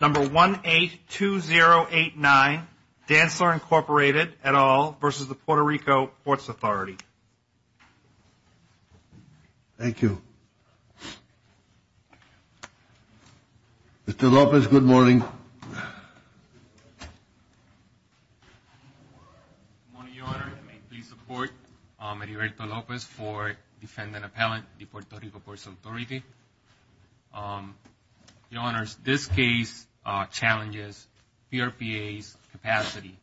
Number 182089, Dantzler, Inc. et al. v. Puerto Rico Ports Authority. Thank you. Mr. Lopez, good morning. Good morning, Your Honor. May it please the Court, I'm Erierto Lopez for Defendant Appellant at the Puerto Rico Ports Authority. Your Honors, this case challenges PRPA's capacity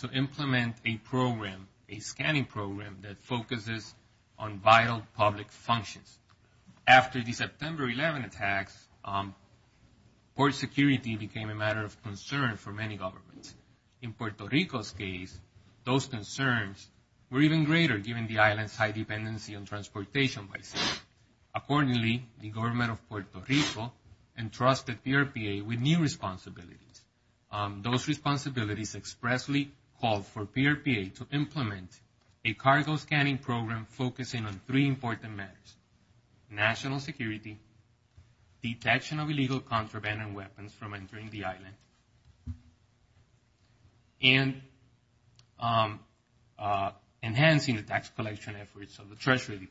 to implement a program, a scanning program, that focuses on vital public functions. After the September 11 attacks, port security became a matter of concern for many governments. In Puerto Rico's case, those concerns were even greater given the island's high dependency on transportation by sea. Accordingly, the government of Puerto Rico entrusted PRPA with new responsibilities. Those responsibilities expressly called for PRPA to implement a cargo scanning program focusing on three important matters, national security, detection of illegal contraband and weapons from entering the island, and enhancing the tax collection efforts of the government.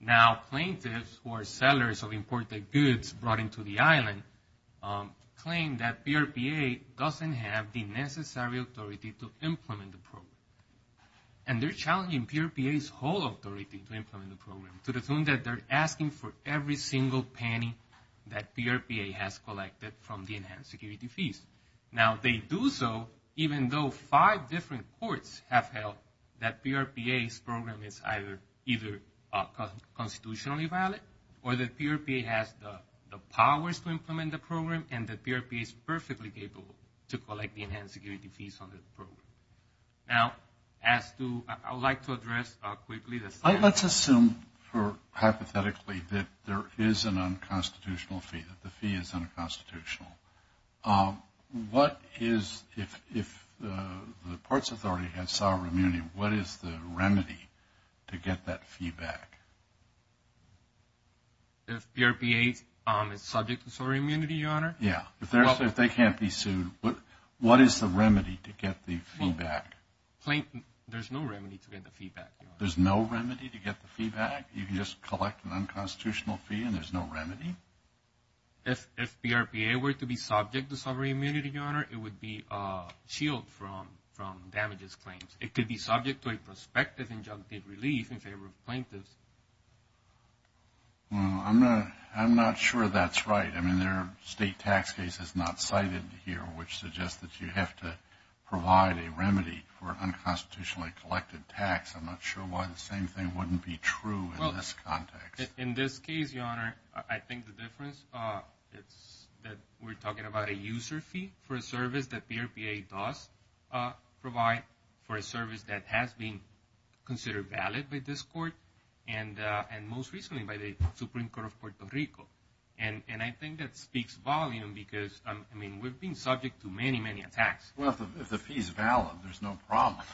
Now plaintiffs who are sellers of imported goods brought into the island claim that PRPA doesn't have the necessary authority to implement the program. And they're challenging PRPA's whole authority to implement the program to the point that they're asking for every single penny that PRPA has collected from the enhanced security fees. Now they do so even though five different courts have held that PRPA's program is either up or constitutionally valid, or that PRPA has the powers to implement the program and that PRPA is perfectly capable to collect the enhanced security fees on the program. Now as to, I would like to address quickly the... Let's assume hypothetically that there is an unconstitutional fee, that the fee is unconstitutional. What is, if the parts authority has sovereign immunity, what is the remedy to get that fee back? If PRPA is subject to sovereign immunity, Your Honor? Yeah. If they can't be sued, what is the remedy to get the fee back? There's no remedy to get the fee back. There's no remedy to get the fee back? You can just collect an unconstitutional fee and there's no remedy? If PRPA were to be subject to sovereign immunity, Your Honor, it would be shielded from damages claims. It could be subject to a prospective injunctive relief in favor of plaintiffs. Well, I'm not sure that's right. I mean, there are state tax cases not cited here which suggest that you have to provide a remedy for unconstitutionally collected tax. I'm not sure why the same thing wouldn't be true in this context. In this case, Your Honor, I think the difference is that we're talking about a user fee for a service that PRPA does provide for a service that has been considered valid by this court and most recently by the Supreme Court of Puerto Rico. And I think that speaks volume because, I mean, we've been subject to many, many attacks. Well, if the fee is valid, there's no problem.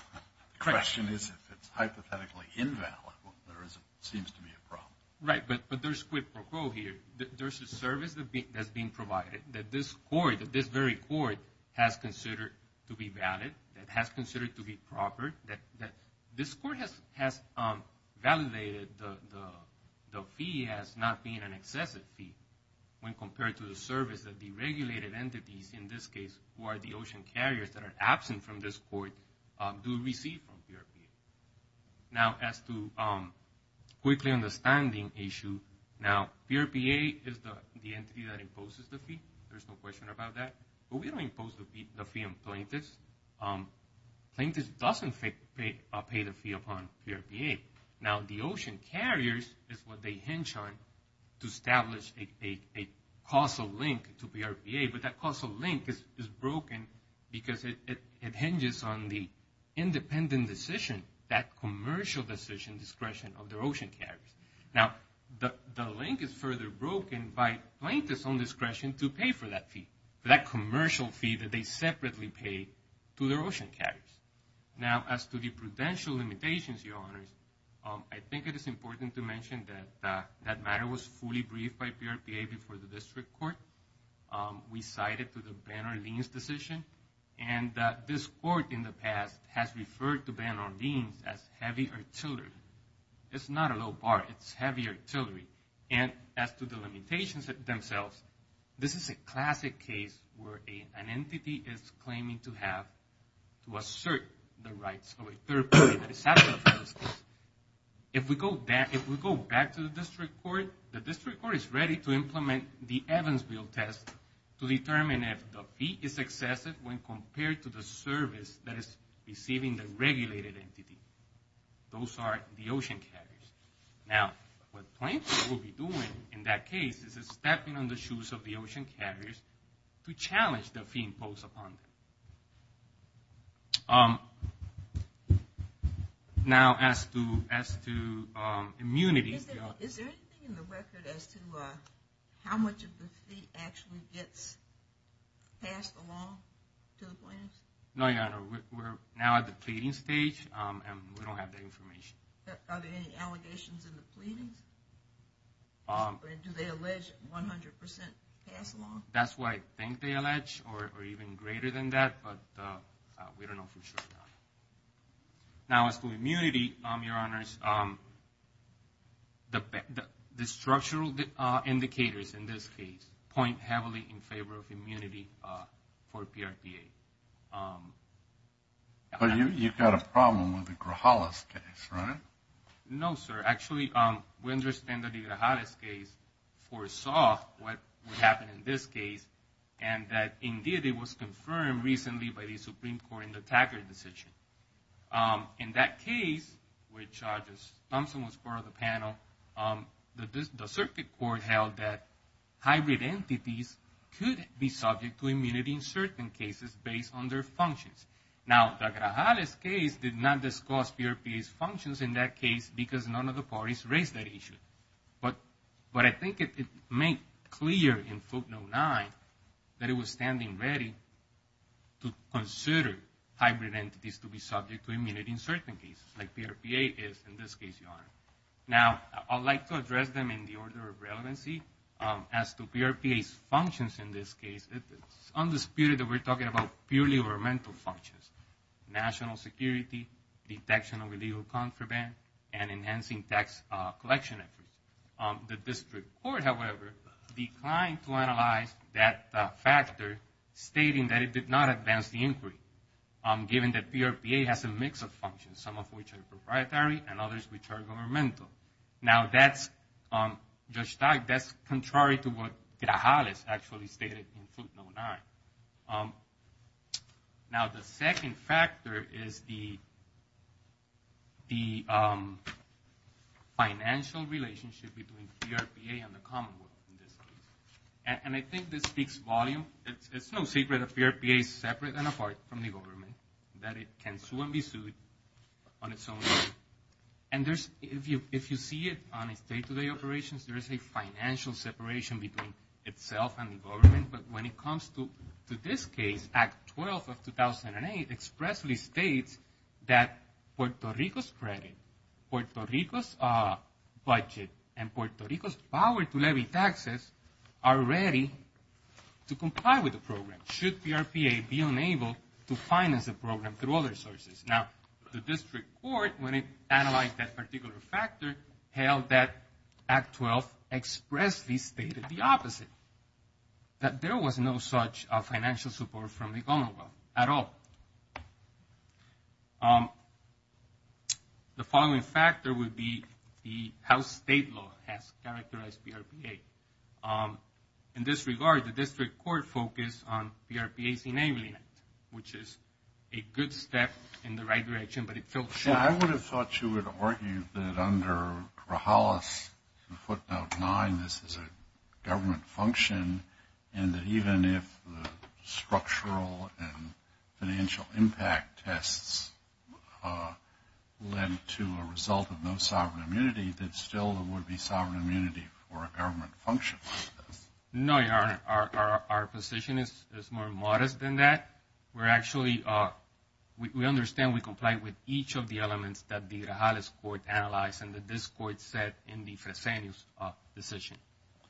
The question is if it's hypothetically invalid. Well, there seems to be a problem. Right. But there's quid pro quo here. There's a service that's being provided that this very court has considered to be valid, that has considered to be proper, that this court has validated the fee as not being an excessive fee when compared to the service that the regulated entities, in this case, who are the ocean carriers that are absent from this court, do receive from PRPA. Now as to quickly understanding issue, now PRPA is the entity that imposes the fee. There's no question about that. But we don't impose the fee on plaintiffs. Plaintiffs don't pay the fee upon PRPA. Now the ocean carriers is what they hinge on to establish a causal link to PRPA, but that causal link is broken because it hinges on the independent decision, that commercial decision discretion of their ocean carriers. Now the link is further broken by plaintiffs on discretion to pay for that fee, that commercial fee that they separately pay to their ocean carriers. Now as to the prudential limitations, your honors, I think it is important to mention that that matter was fully briefed by PRPA before the district court. We cited to the Banner-Leans decision, and this court in the past has referred to Banner-Leans as heavy artillery. It's not a low bar, it's heavy artillery. And as to the limitations themselves, this is a classic case where an entity is claiming to have, to assert the rights of a third party that is absent from this case. If we go back to the district court, the district court is ready to implement the Evansville test to determine if the fee is excessive when compared to the service that is receiving the regulated entity. Those are the ocean carriers. Now, what plaintiffs will be doing in that case is stepping on the shoes of the ocean carriers to challenge the fee imposed upon them. Now as to immunities, your honors. Is there anything in the record as to how much of the fee actually gets passed along to the plaintiffs? No, your honor. We're now at the pleading stage, and we don't have that information. Are there any allegations in the pleadings? Do they allege 100% pass along? That's what I think they allege, or even greater than that, but we don't know for sure. Now as to immunity, your honors. The structural indicators in this case point heavily in favor of immunity for PRPA. But you've got a problem with the Grajales case, right? No, sir. Actually, we understand that the Grajales case foresaw what would happen in this case, and that indeed it was confirmed recently by the Supreme Court in the Taggart decision. In that case, which Thompson was part of the panel, the circuit court held that hybrid entities could be subject to immunity in certain cases based on their functions. Now, the Grajales case did not discuss PRPA's functions in that case because none of the parties raised that issue. But I think it made clear in footnote nine that it was standing ready to consider hybrid entities to be subject to immunity in certain cases, like PRPA is in this case, your honor. Now, I'd like to address them in the order of relevancy. As to PRPA's functions in this case, it's undisputed that we're talking about purely governmental functions, national security, detection of illegal contraband, and enhancing tax collection efforts. The district court, however, declined to analyze that factor, stating that it did not advance the inquiry, given that PRPA has a mix of functions, some of which are proprietary and others which are governmental. Now, that's contrary to what Grajales actually stated in footnote nine. Now, the second factor is the financial relationship between PRPA and the Commonwealth in this case. And I think this speaks volumes. It's no secret that PRPA is separate and apart from the government, that it can sue and be sued on its own terms. And if you see it on its day-to-day operations, there is a financial separation between itself and the government. But when it comes to this case, Act 12 of 2008 expressly states that Puerto Rico's credit, Puerto Rico's budget, and Puerto Rico's power to levy taxes are ready to comply with the program. Should PRPA be unable to finance the program through other sources? Now, the district court, when it analyzed that particular factor, held that Act 12 expressly stated the opposite, that there was no such financial support from the Commonwealth at all. The following factor would be how state law has characterized PRPA. In this regard, the district court focused on PRPA's enabling it, which is a good step in the right direction, but it felt short. Yeah, I would have thought you would argue that under Grajales' footnote nine, this is a government function, and that even if the structural and financial impact tests led to a result of no sovereign immunity, that still there would be sovereign immunity for a government function. No, Your Honor. Our position is more modest than that. We're actually, we understand we comply with each of the elements that the Grajales court analyzed and that this court said in the Fresenius decision,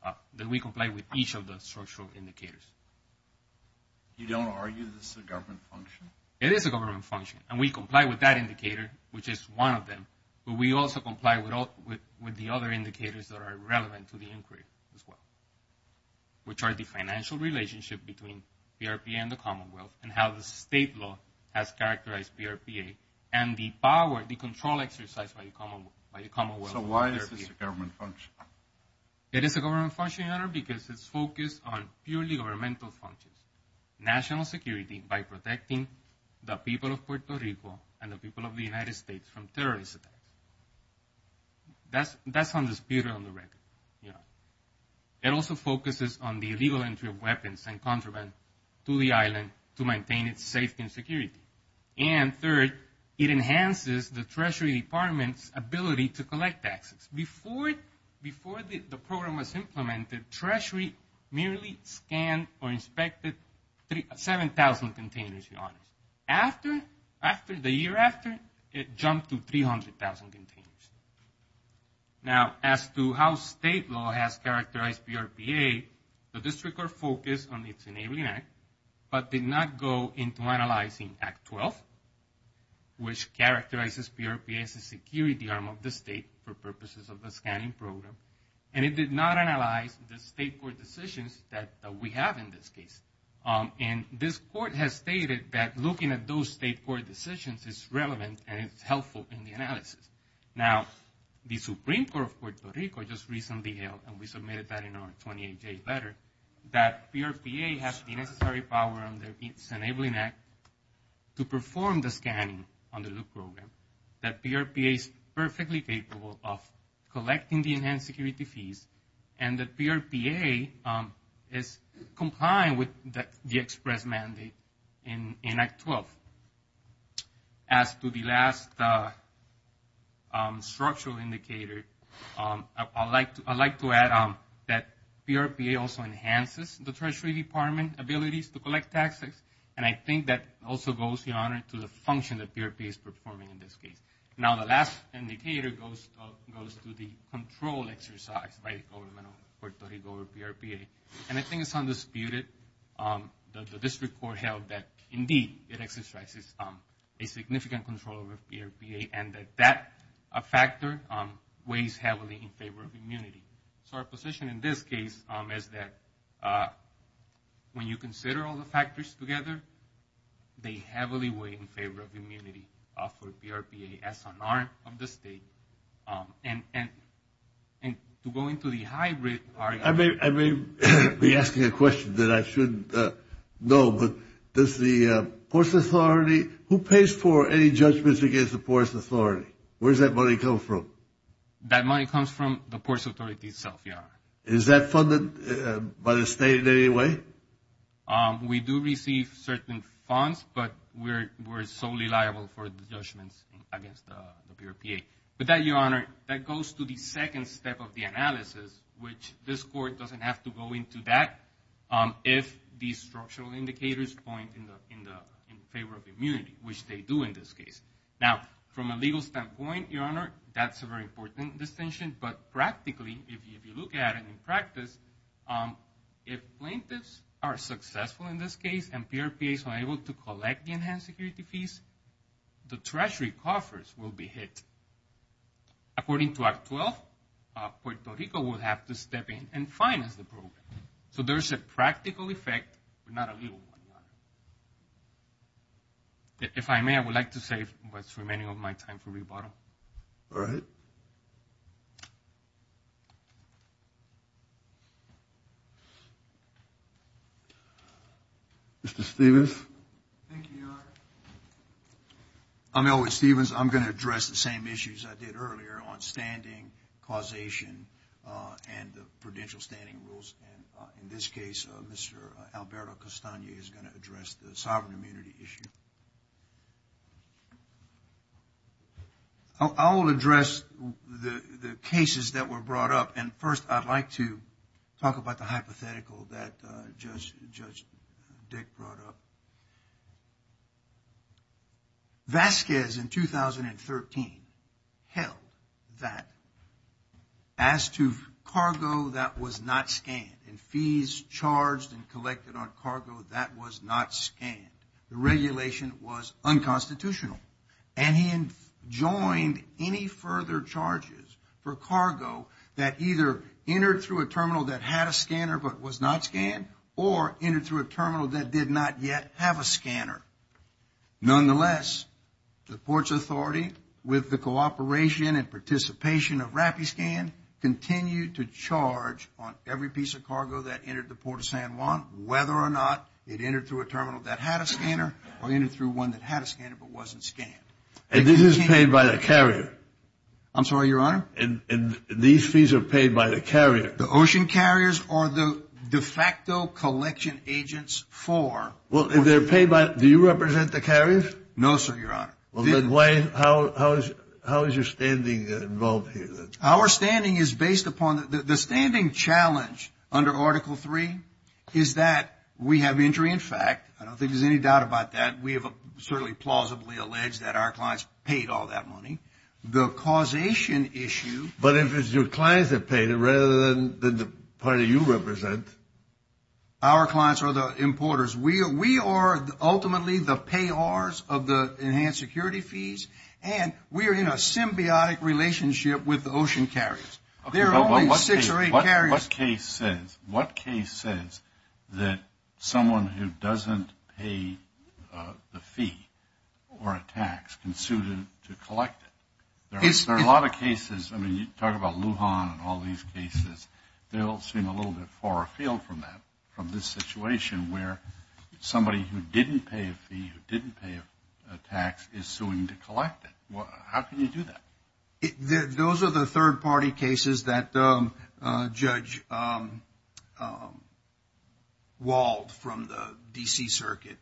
that we comply with each of the structural indicators. You don't argue this is a government function? It is a government function, and we comply with that indicator, which is one of them, but we also comply with the other indicators that are relevant to the inquiry as well, which are the financial relationship between PRPA and the Commonwealth, and how the state law has characterized PRPA, and the power, the control exercised by the Commonwealth. So why is this a government function? It is a government function, Your Honor, because it's focused on purely governmental functions. National security by protecting the people of Puerto Rico and the people of the United States from terrorist attacks. That's undisputed on the record, Your Honor. It also focuses on the illegal entry of weapons and contraband to the island to maintain its safety and security. And third, it enhances the Treasury Department's ability to collect taxes. Before the program was implemented, Treasury merely scanned or inspected 7,000 containers, Your Honor. After, the year after, it jumped to 300,000 containers. Now, as to how state law has characterized PRPA, the district are focused on its Enabling Act, but did not go into analyzing Act 12, which characterizes PRPA as a security arm of the state for purposes of the scanning program, and it did not analyze the state court decisions that we have in this case. And this court has stated that looking at those state court decisions is relevant and it's helpful in the analysis. Now, the Supreme Court of Puerto Rico just recently held, and we submitted that in our 28-day letter, that PRPA has the necessary power under its Enabling Act to perform the task of collecting the enhanced security fees and that PRPA is compliant with the express mandate in Act 12. As to the last structural indicator, I'd like to add that PRPA also enhances the Treasury Department abilities to collect taxes, and I think that also goes, Your Honor, to the function that PRPA is performing in this case. Now, the last indicator goes to the control exercise by the government of Puerto Rico over PRPA, and I think it's undisputed that the district court held that indeed it exercises a significant control over PRPA and that that factor weighs heavily in favor of immunity. So our position in this case is that when you consider all the factors together, they act as an arm of the state. And to go into the hybrid argument... I may be asking a question that I shouldn't know, but does the poorest authority... Who pays for any judgments against the poorest authority? Where does that money come from? That money comes from the poorest authority itself, Your Honor. Is that funded by the state in any way? We do receive certain funds, but we're solely liable for the judgments against the PRPA. With that, Your Honor, that goes to the second step of the analysis, which this court doesn't have to go into that if the structural indicators point in favor of immunity, which they do in this case. Now, from a legal standpoint, Your Honor, that's a very important distinction, but practically if you look at it in practice, if plaintiffs are successful in this case and PRPAs are able to collect the enhanced security fees, the treasury coffers will be hit. According to Act 12, Puerto Rico will have to step in and finance the program. So there's a practical effect, but not a legal one, Your Honor. If I may, I would like to save what's remaining of my time for rebuttal. All right. Mr. Stephens. Thank you, Your Honor. I'm Elwood Stephens. I'm going to address the same issues I did earlier on standing, causation, and the prudential standing rules. In this case, Mr. Alberto Castagne is going to address the sovereign immunity issue. I will address the cases that were brought up, and first, I'd like to talk about the hypothetical that Judge Dick brought up. Vasquez in 2013 held that as to cargo that was not scanned and fees charged and collected on cargo that was not scanned, the regulation was unconstitutional. And he enjoined any further charges for cargo that either entered through a terminal that had a scanner but was not scanned or entered through a terminal that did not yet have a scanner. Nonetheless, the Ports Authority, with the cooperation and participation of RAPI Scan, continued to charge on every piece of cargo that entered the Port of San Juan whether or not it entered through a terminal that had a scanner or entered through one that had a scanner but wasn't scanned. And this is paid by the carrier? I'm sorry, Your Honor? And these fees are paid by the carrier? The ocean carriers or the de facto collection agents for? Well, if they're paid by, do you represent the carriers? No, sir, Your Honor. Well, then why, how is your standing involved here? Our standing is based upon, the standing challenge under Article 3 is that we have injury in fact. I don't think there's any doubt about that. We have certainly plausibly alleged that our clients paid all that money. The causation issue. But if it's your clients that paid it rather than the party you represent. Our clients are the importers. We are ultimately the payors of the enhanced security fees and we are in a symbiotic relationship with the ocean carriers. There are only six or eight carriers. What case says that someone who doesn't pay the fee or a tax can sue to collect it? There are a lot of cases, I mean, you talk about Lujan and all these cases. They all seem a little bit far afield from that, from this situation where somebody who didn't pay a fee, who didn't pay a tax is suing to collect it. How can you do that? Those are the third party cases that Judge Wald from the D.C. Circuit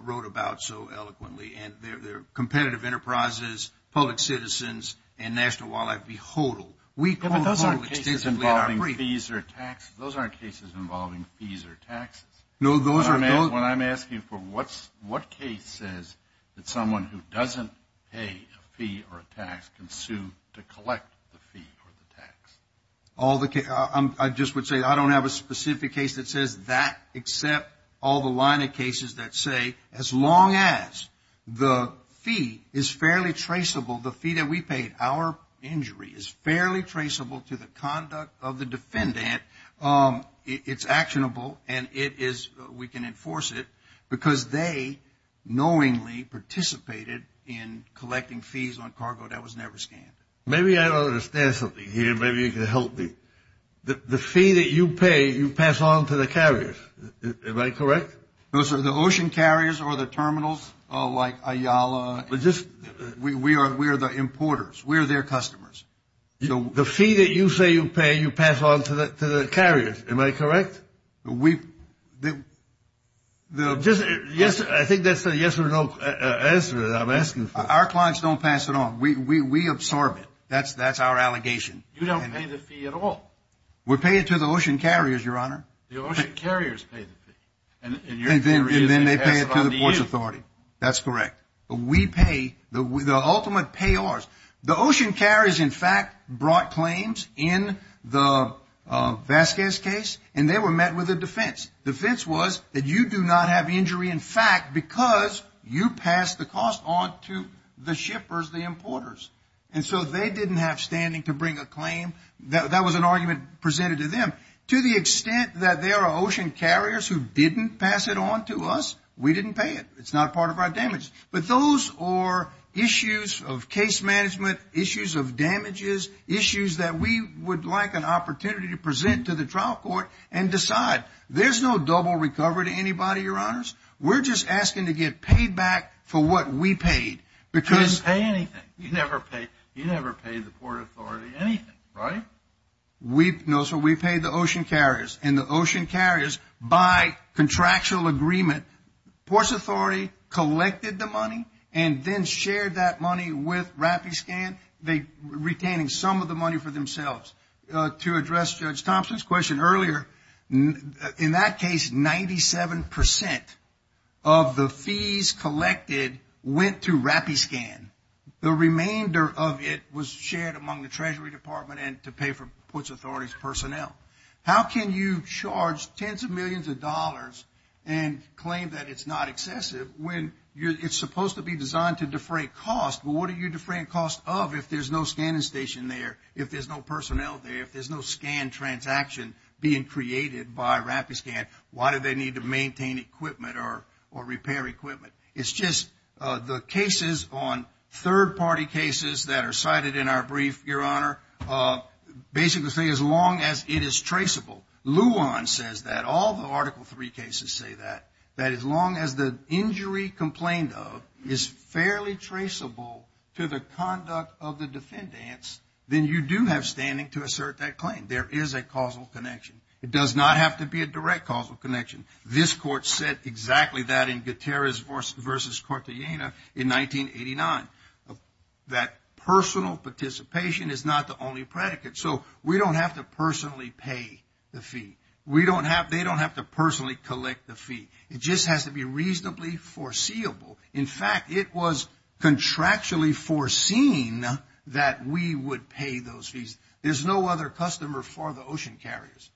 wrote about so eloquently and they're competitive enterprises, public citizens and National Wildlife Beholder. Those aren't cases involving fees or taxes. Those aren't cases involving fees or taxes. When I'm asking for what case says that someone who doesn't pay a fee or a tax can sue to collect the fee or the tax? I just would say I don't have a specific case that says that except all the line of cases that say as long as the fee is fairly traceable, the fee that we paid, our injury is fairly traceable to the conduct of the defendant, it's actionable and we can enforce it because they knowingly participated in collecting fees on cargo that was never scanned. Maybe I don't understand something here. Maybe you can help me. The fee that you pay, you pass on to the carriers. Am I correct? No, sir. The ocean carriers or the terminals like Ayala? We're the importers. We're their customers. The fee that you say you pay, you pass on to the carriers. Am I correct? Yes, I think that's a yes or no answer that I'm asking for. Our clients don't pass it on. We absorb it. That's our allegation. You don't pay the fee at all. We pay it to the ocean carriers, Your Honor. The ocean carriers pay the fee. And then they pay it to the Port Authority. That's correct. We pay, the ultimate payors. The ocean carriers in fact brought claims in the Vasquez case and they were met with a defense. The defense was that you do not have injury in fact because you pass the cost on to the shippers, the importers. And so they didn't have standing to bring a claim. That was an argument presented to them. To the extent that there are ocean carriers who didn't pass it on to us, we didn't pay it. It's not part of our damages. But those are issues of case management, issues of damages, issues that we would like an opportunity to present to the trial court and decide. There's no double recovery to anybody, Your Honors. We're just asking to get paid back for what we paid. You didn't pay anything. You never paid the Port Authority anything, right? No, sir. We paid the ocean carriers. And the ocean carriers, by contractual agreement, Port Authority collected the money and then shared that money with RappiScan, retaining some of the money for themselves. To address Judge Thompson's question earlier, in that case, 97% of the fees collected went to RappiScan. The remainder of it was shared among the Treasury Department and to pay for Port Authority's personnel. How can you charge tens of millions of dollars and claim that it's not excessive when it's supposed to be designed to defray cost? What are you defraying cost of if there's no scanning station there, if there's no personnel there, if there's no scan transaction being created by RappiScan, why do they need to maintain equipment or repair equipment? It's just the cases on third party cases that are cited in our brief, Your Honor, basically say as long as it is traceable. Luan says that. All the Article III cases say that. That as long as the injury complained of is fairly traceable to the conduct of the defendants, then you do have standing to assert that claim. There is a causal connection. It does not have to be a direct causal connection. This Court said exactly that in Gutierrez v. Cortellana in 1989. That personal participation is not the only predicate. We don't have to personally pay the fee. They don't have to personally collect the fee. It just has to be reasonably foreseeable. In fact, it was contractually foreseen that we would pay those fees. There's no other customer for the ocean carriers.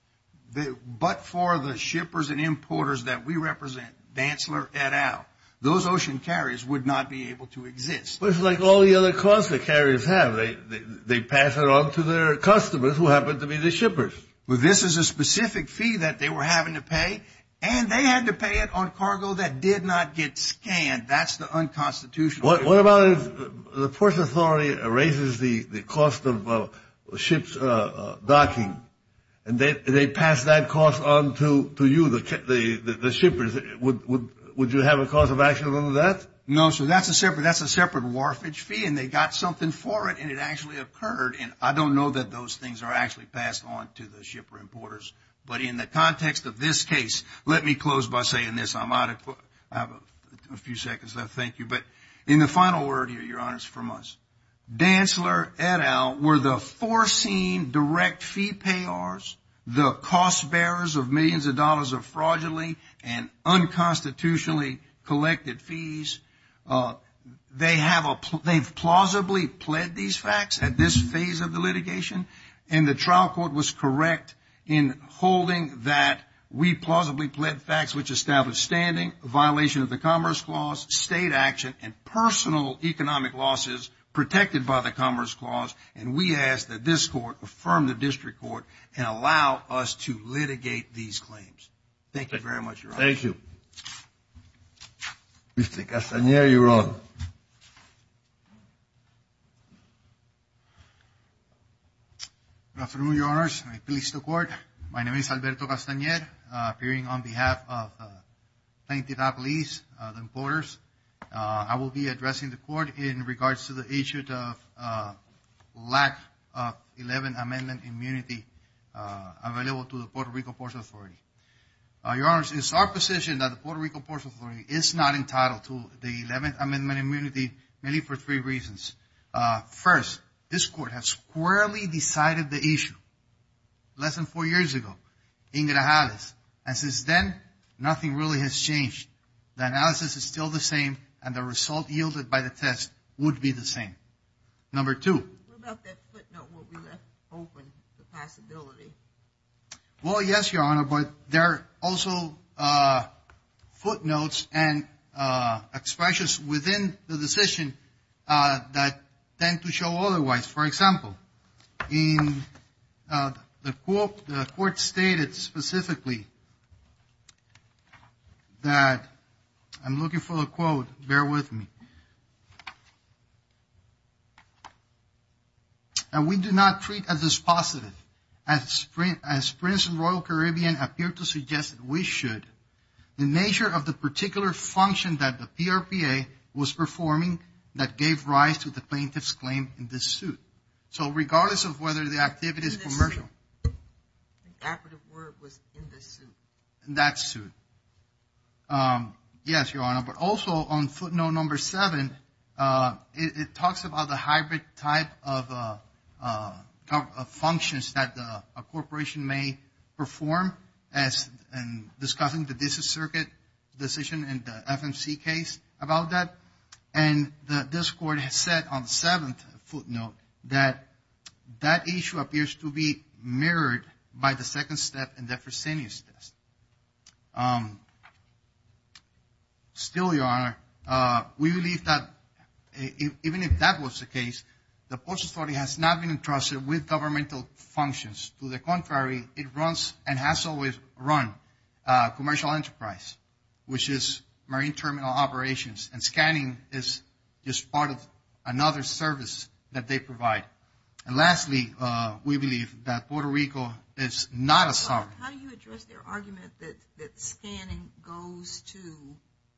But for the shippers and importers that we represent, Dantzler, et al., those ocean carriers would not be able to exist. But it's like all the other costs that carriers have. They pass it on to their customers who happen to be the shippers. Well, this is a specific fee that they were having to pay, and they had to pay it on cargo that did not get scanned. That's the unconstitutional. What about if the Port Authority erases the cost of the ship's docking, and they pass that cost on to you, the shippers? Would you have a cost of action on that? No, sir. That's a separate warfage fee, and they got something for it, and it actually occurred. And I don't know that those things are actually passed on to the shipper importers. But in the context of this case, let me close by saying this. I'm out of time. I have a few seconds left. Thank you. But in the final word here, Your Honors, from us, Dantzler, et al., were the foreseen direct fee payors, the cost bearers of millions of dollars of fraudulently and unconstitutionally collected fees. They've plausibly pled these facts at this phase of the litigation. And the trial court was correct in holding that we plausibly pled facts which establish standing, a violation of the Commerce Clause, state action, and personal economic losses protected by the Commerce Clause. And we ask that this Court affirm the District Court and allow us to litigate these claims. Thank you very much, Your Honor. Thank you. Mr. Castaner, you're on. Good afternoon, Your Honors. I please the Court. My name is Alberto Castaner, appearing on behalf of Planned Capital Police, the importers. I will be addressing the Court in regards to the issue of lack of 11th Amendment immunity available to the Puerto Rico Port Authority. Your Honors, it's our position that the Puerto Rico Port Authority is not entitled to the 11th Amendment immunity, mainly for three reasons. First, this Court has squarely decided the issue less than four years ago in Grajales. And since then, nothing really has changed. The analysis is still the same and the result yielded by the test would be the same. Number two. What about that footnote where we left open the possibility? Well, yes, Your Honor, but there are also footnotes and decisions that tend to show otherwise. For example, the Court stated specifically that I'm looking for a quote. Bear with me. And we do not treat as is positive as Prince and Royal Caribbean appear to suggest that we should. The nature of the particular function that the PRPA was performing that gave rise to the plaintiff's claim in this suit. So regardless of whether the activity is commercial. The operative word was in the suit. That suit. Yes, Your Honor, but also on footnote number seven, it talks about the hybrid type of functions that a corporation may perform as in discussing the district circuit decision in the FMC case about that. And this Court has said on the seventh footnote that that issue appears to be mirrored by the second step in the Fresenius test. Still, Your Honor, we believe that even if that was the case, the Postal Authority has not been entrusted with governmental functions. To the contrary, it runs and has always run commercial enterprise, which is marine terminal operations and scanning is just part of another service that they provide. And lastly, we believe that Puerto Rico is not a sovereign. How do you address their argument that scanning goes to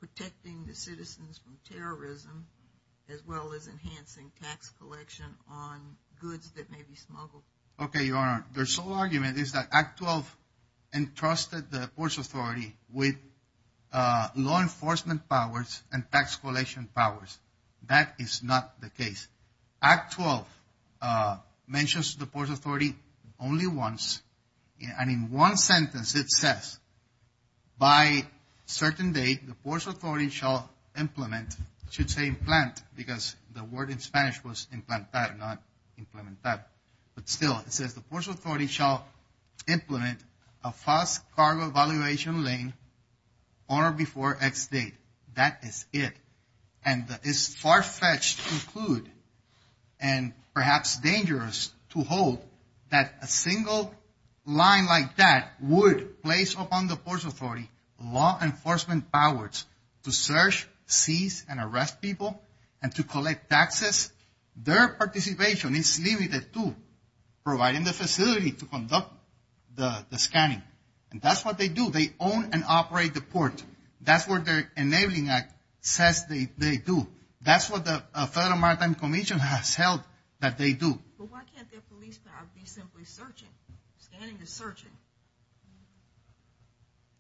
protecting the citizens from terrorism as well as enhancing tax collection on goods that may be smuggled? Okay, Your Honor, their sole argument is that Act 12 entrusted the Postal Authority with law enforcement powers and tax collection powers. That is not the case. Act 12 mentions the Postal Authority only once, and in one sentence it says, by certain date, the Postal Authority shall implement, should say implant, because the word in Spanish was implantar, not implementar. But still, it says the Postal Authority shall implement a fast cargo valuation lane on or before X date. That is it. And it's far-fetched to include and perhaps dangerous to hold that a single line like that would place upon the Postal Authority law enforcement powers to search, seize, and arrest people and to collect taxes. Their participation is limited to providing the facility to conduct the scanning. And that's what they do. They own and operate the port. That's what their enabling act says they do. That's what the Federal Maritime Commission has held that they do. But why can't their police power be simply searching? Scanning is searching.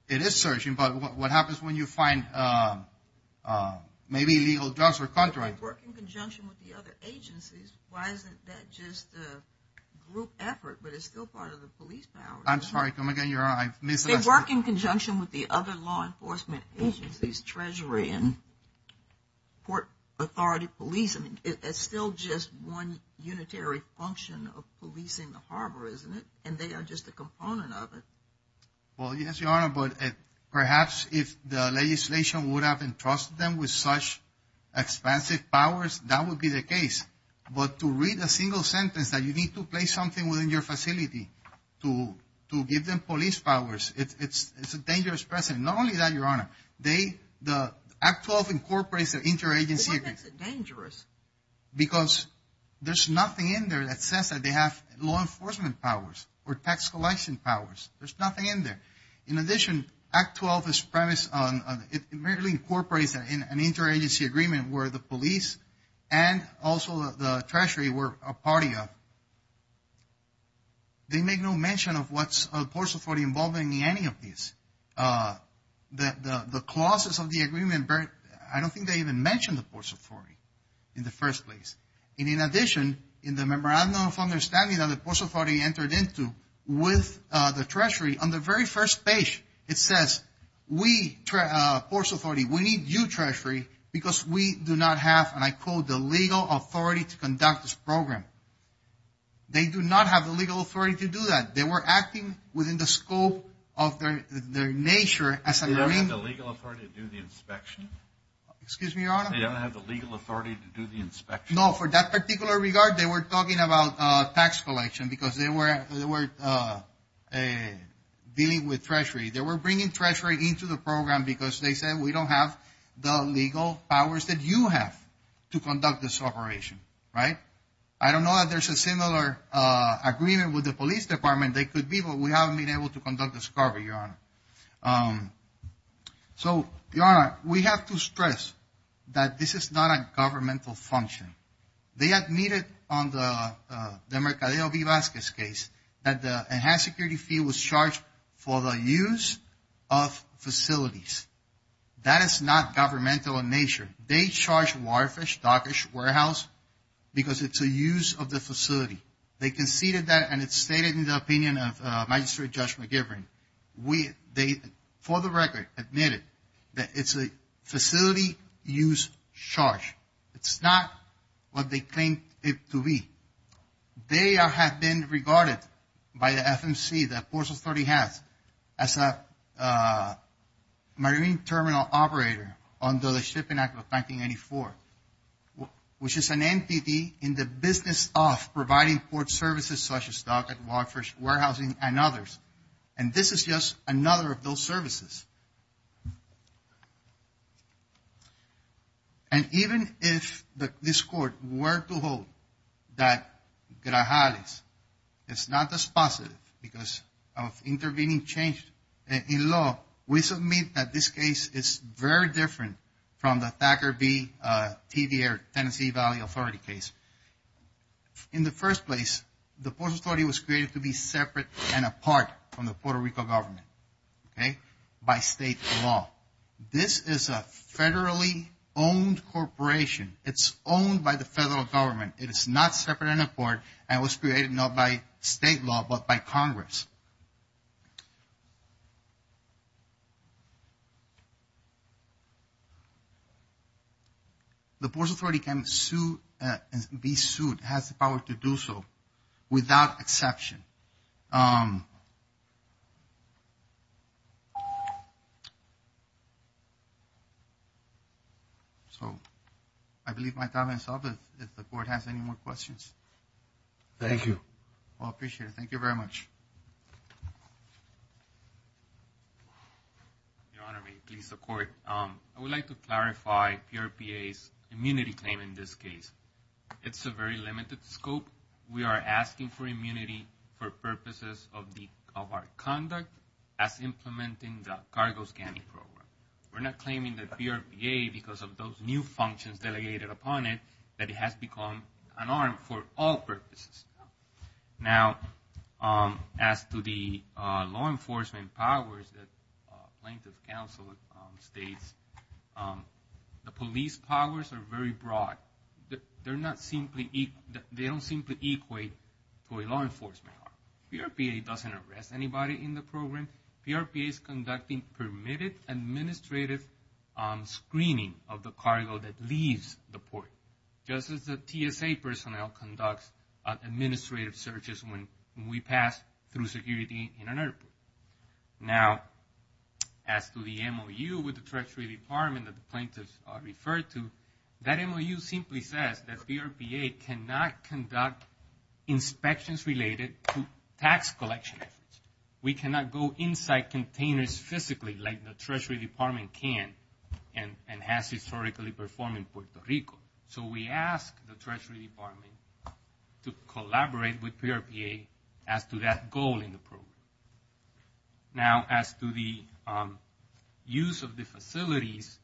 It is searching, but what happens when you find maybe illegal drugs or contraband? They work in conjunction with the other agencies. Why isn't that just a group effort, but it's still part of the police power? I'm sorry. Come again, Your Honor. I misread that. They work in conjunction with the other law enforcement agencies, Treasury and Port Authority Police. It's still just one unitary function of policing the harbor, isn't it? And they are just a component of it. Well, yes, Your Honor, but perhaps if the legislation would have entrusted them with such expansive powers, that would be the case. But to read a single sentence that you need to place something within your facility to give them police powers, it's a dangerous precedent. Not only that, Your Honor, the Act 12 incorporates the interagency. But why makes it dangerous? Because there's nothing in there that says that they have law enforcement powers or tax collection powers. There's nothing in there. In addition, Act 12 is premised on, it merely incorporates an interagency agreement where the police and also the Treasury were a party of. They make no mention of what's Port Authority involved in any of this. The clauses of the agreement, I don't think they even mention the Port Authority in the first place. And in addition, in the memorandum of understanding that the very first page, it says we, Port Authority, we need you Treasury because we do not have, and I quote, the legal authority to conduct this program. They do not have the legal authority to do that. They were acting within the scope of their nature as a marine. They don't have the legal authority to do the inspection? Excuse me, Your Honor? They don't have the legal authority to do the inspection? No, for that particular regard, they were talking about tax collection because they were dealing with Treasury. They were bringing Treasury into the program because they said we don't have the legal powers that you have to conduct this operation. Right? I don't know that there's a similar agreement with the police department. There could be, but we haven't been able to conduct this discovery, Your Honor. So, Your Honor, we have to stress that this is not a governmental function. They admitted on the Mercadeo V. Vasquez case that the enhanced security fee was charged for the use of facilities. That is not governmental in nature. They charged Waterfish, Dockers Warehouse, because it's a use of the facility. They conceded that, and it's stated in the opinion of Magistrate Judge McGivern. For the record, admitted that it's a facility use charge. It's not what they claim it to be. They have been regarded by the FMC, the Port Authority has, as a marine terminal operator under the Shipping Act of 1994, which is an entity in the business of providing port services such as Dockers, Waterfish, Warehousing, and others. And this is just another of those services. And even if this Court were to hold that Grajales is not dispositive because of intervening change in law, we submit that this case is very different from the Thacker V. TDR, Tennessee Valley Authority case. In the first place, the Port Authority was created to be separate and apart from the Puerto Rico government. Okay? By state law. This is a federally owned corporation. It's owned by the federal government. It is not separate and apart, and it was created not by state law, but by Congress. The Port Authority can be sued, has the power to do so, without exception. So, I believe my time is up. If the Court has any more questions. Thank you. Well, I appreciate it. Thank you very much. Your Honor, may it please the Court. I would like to clarify PRPA's immunity claim in this case. One of the reasons is that it's a very limited scope. For purposes of our conduct, as implementing the cargo scanning program. We're not claiming that PRPA, because of those new functions delegated upon it, that it has become an arm for all purposes. Now, as to the law enforcement powers that plaintiff counsel states, the police powers are very broad. They don't simply equate to a law enforcement power. PRPA doesn't arrest anybody in the program. PRPA is conducting permitted administrative screening of the cargo that leaves the port. Just as the TSA personnel conducts administrative searches when we pass through security in an airport. Now, as to the MOU with the Treasury Department that the simply says that PRPA cannot conduct inspections related to tax collection efforts. We cannot go inside containers physically like the Treasury Department can and has historically performed in Puerto Rico. So, we ask the Treasury Department to collaborate with PRPA as to that goal in the program. Now, those facilities,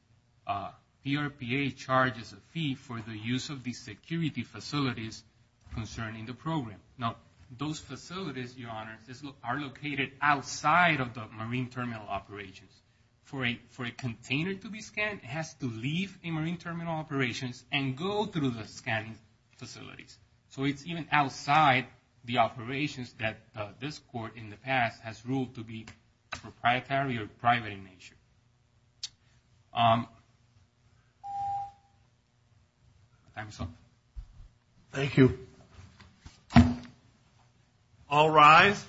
Your Honor, are located outside of the marine terminal operations. For a container to be scanned, it has to leave a marine terminal operations and go through the scanning facilities. So, it's even outside the operations that this court in the past has ruled to be proprietary or private in nature. Thank you so much. Thank you. All rise.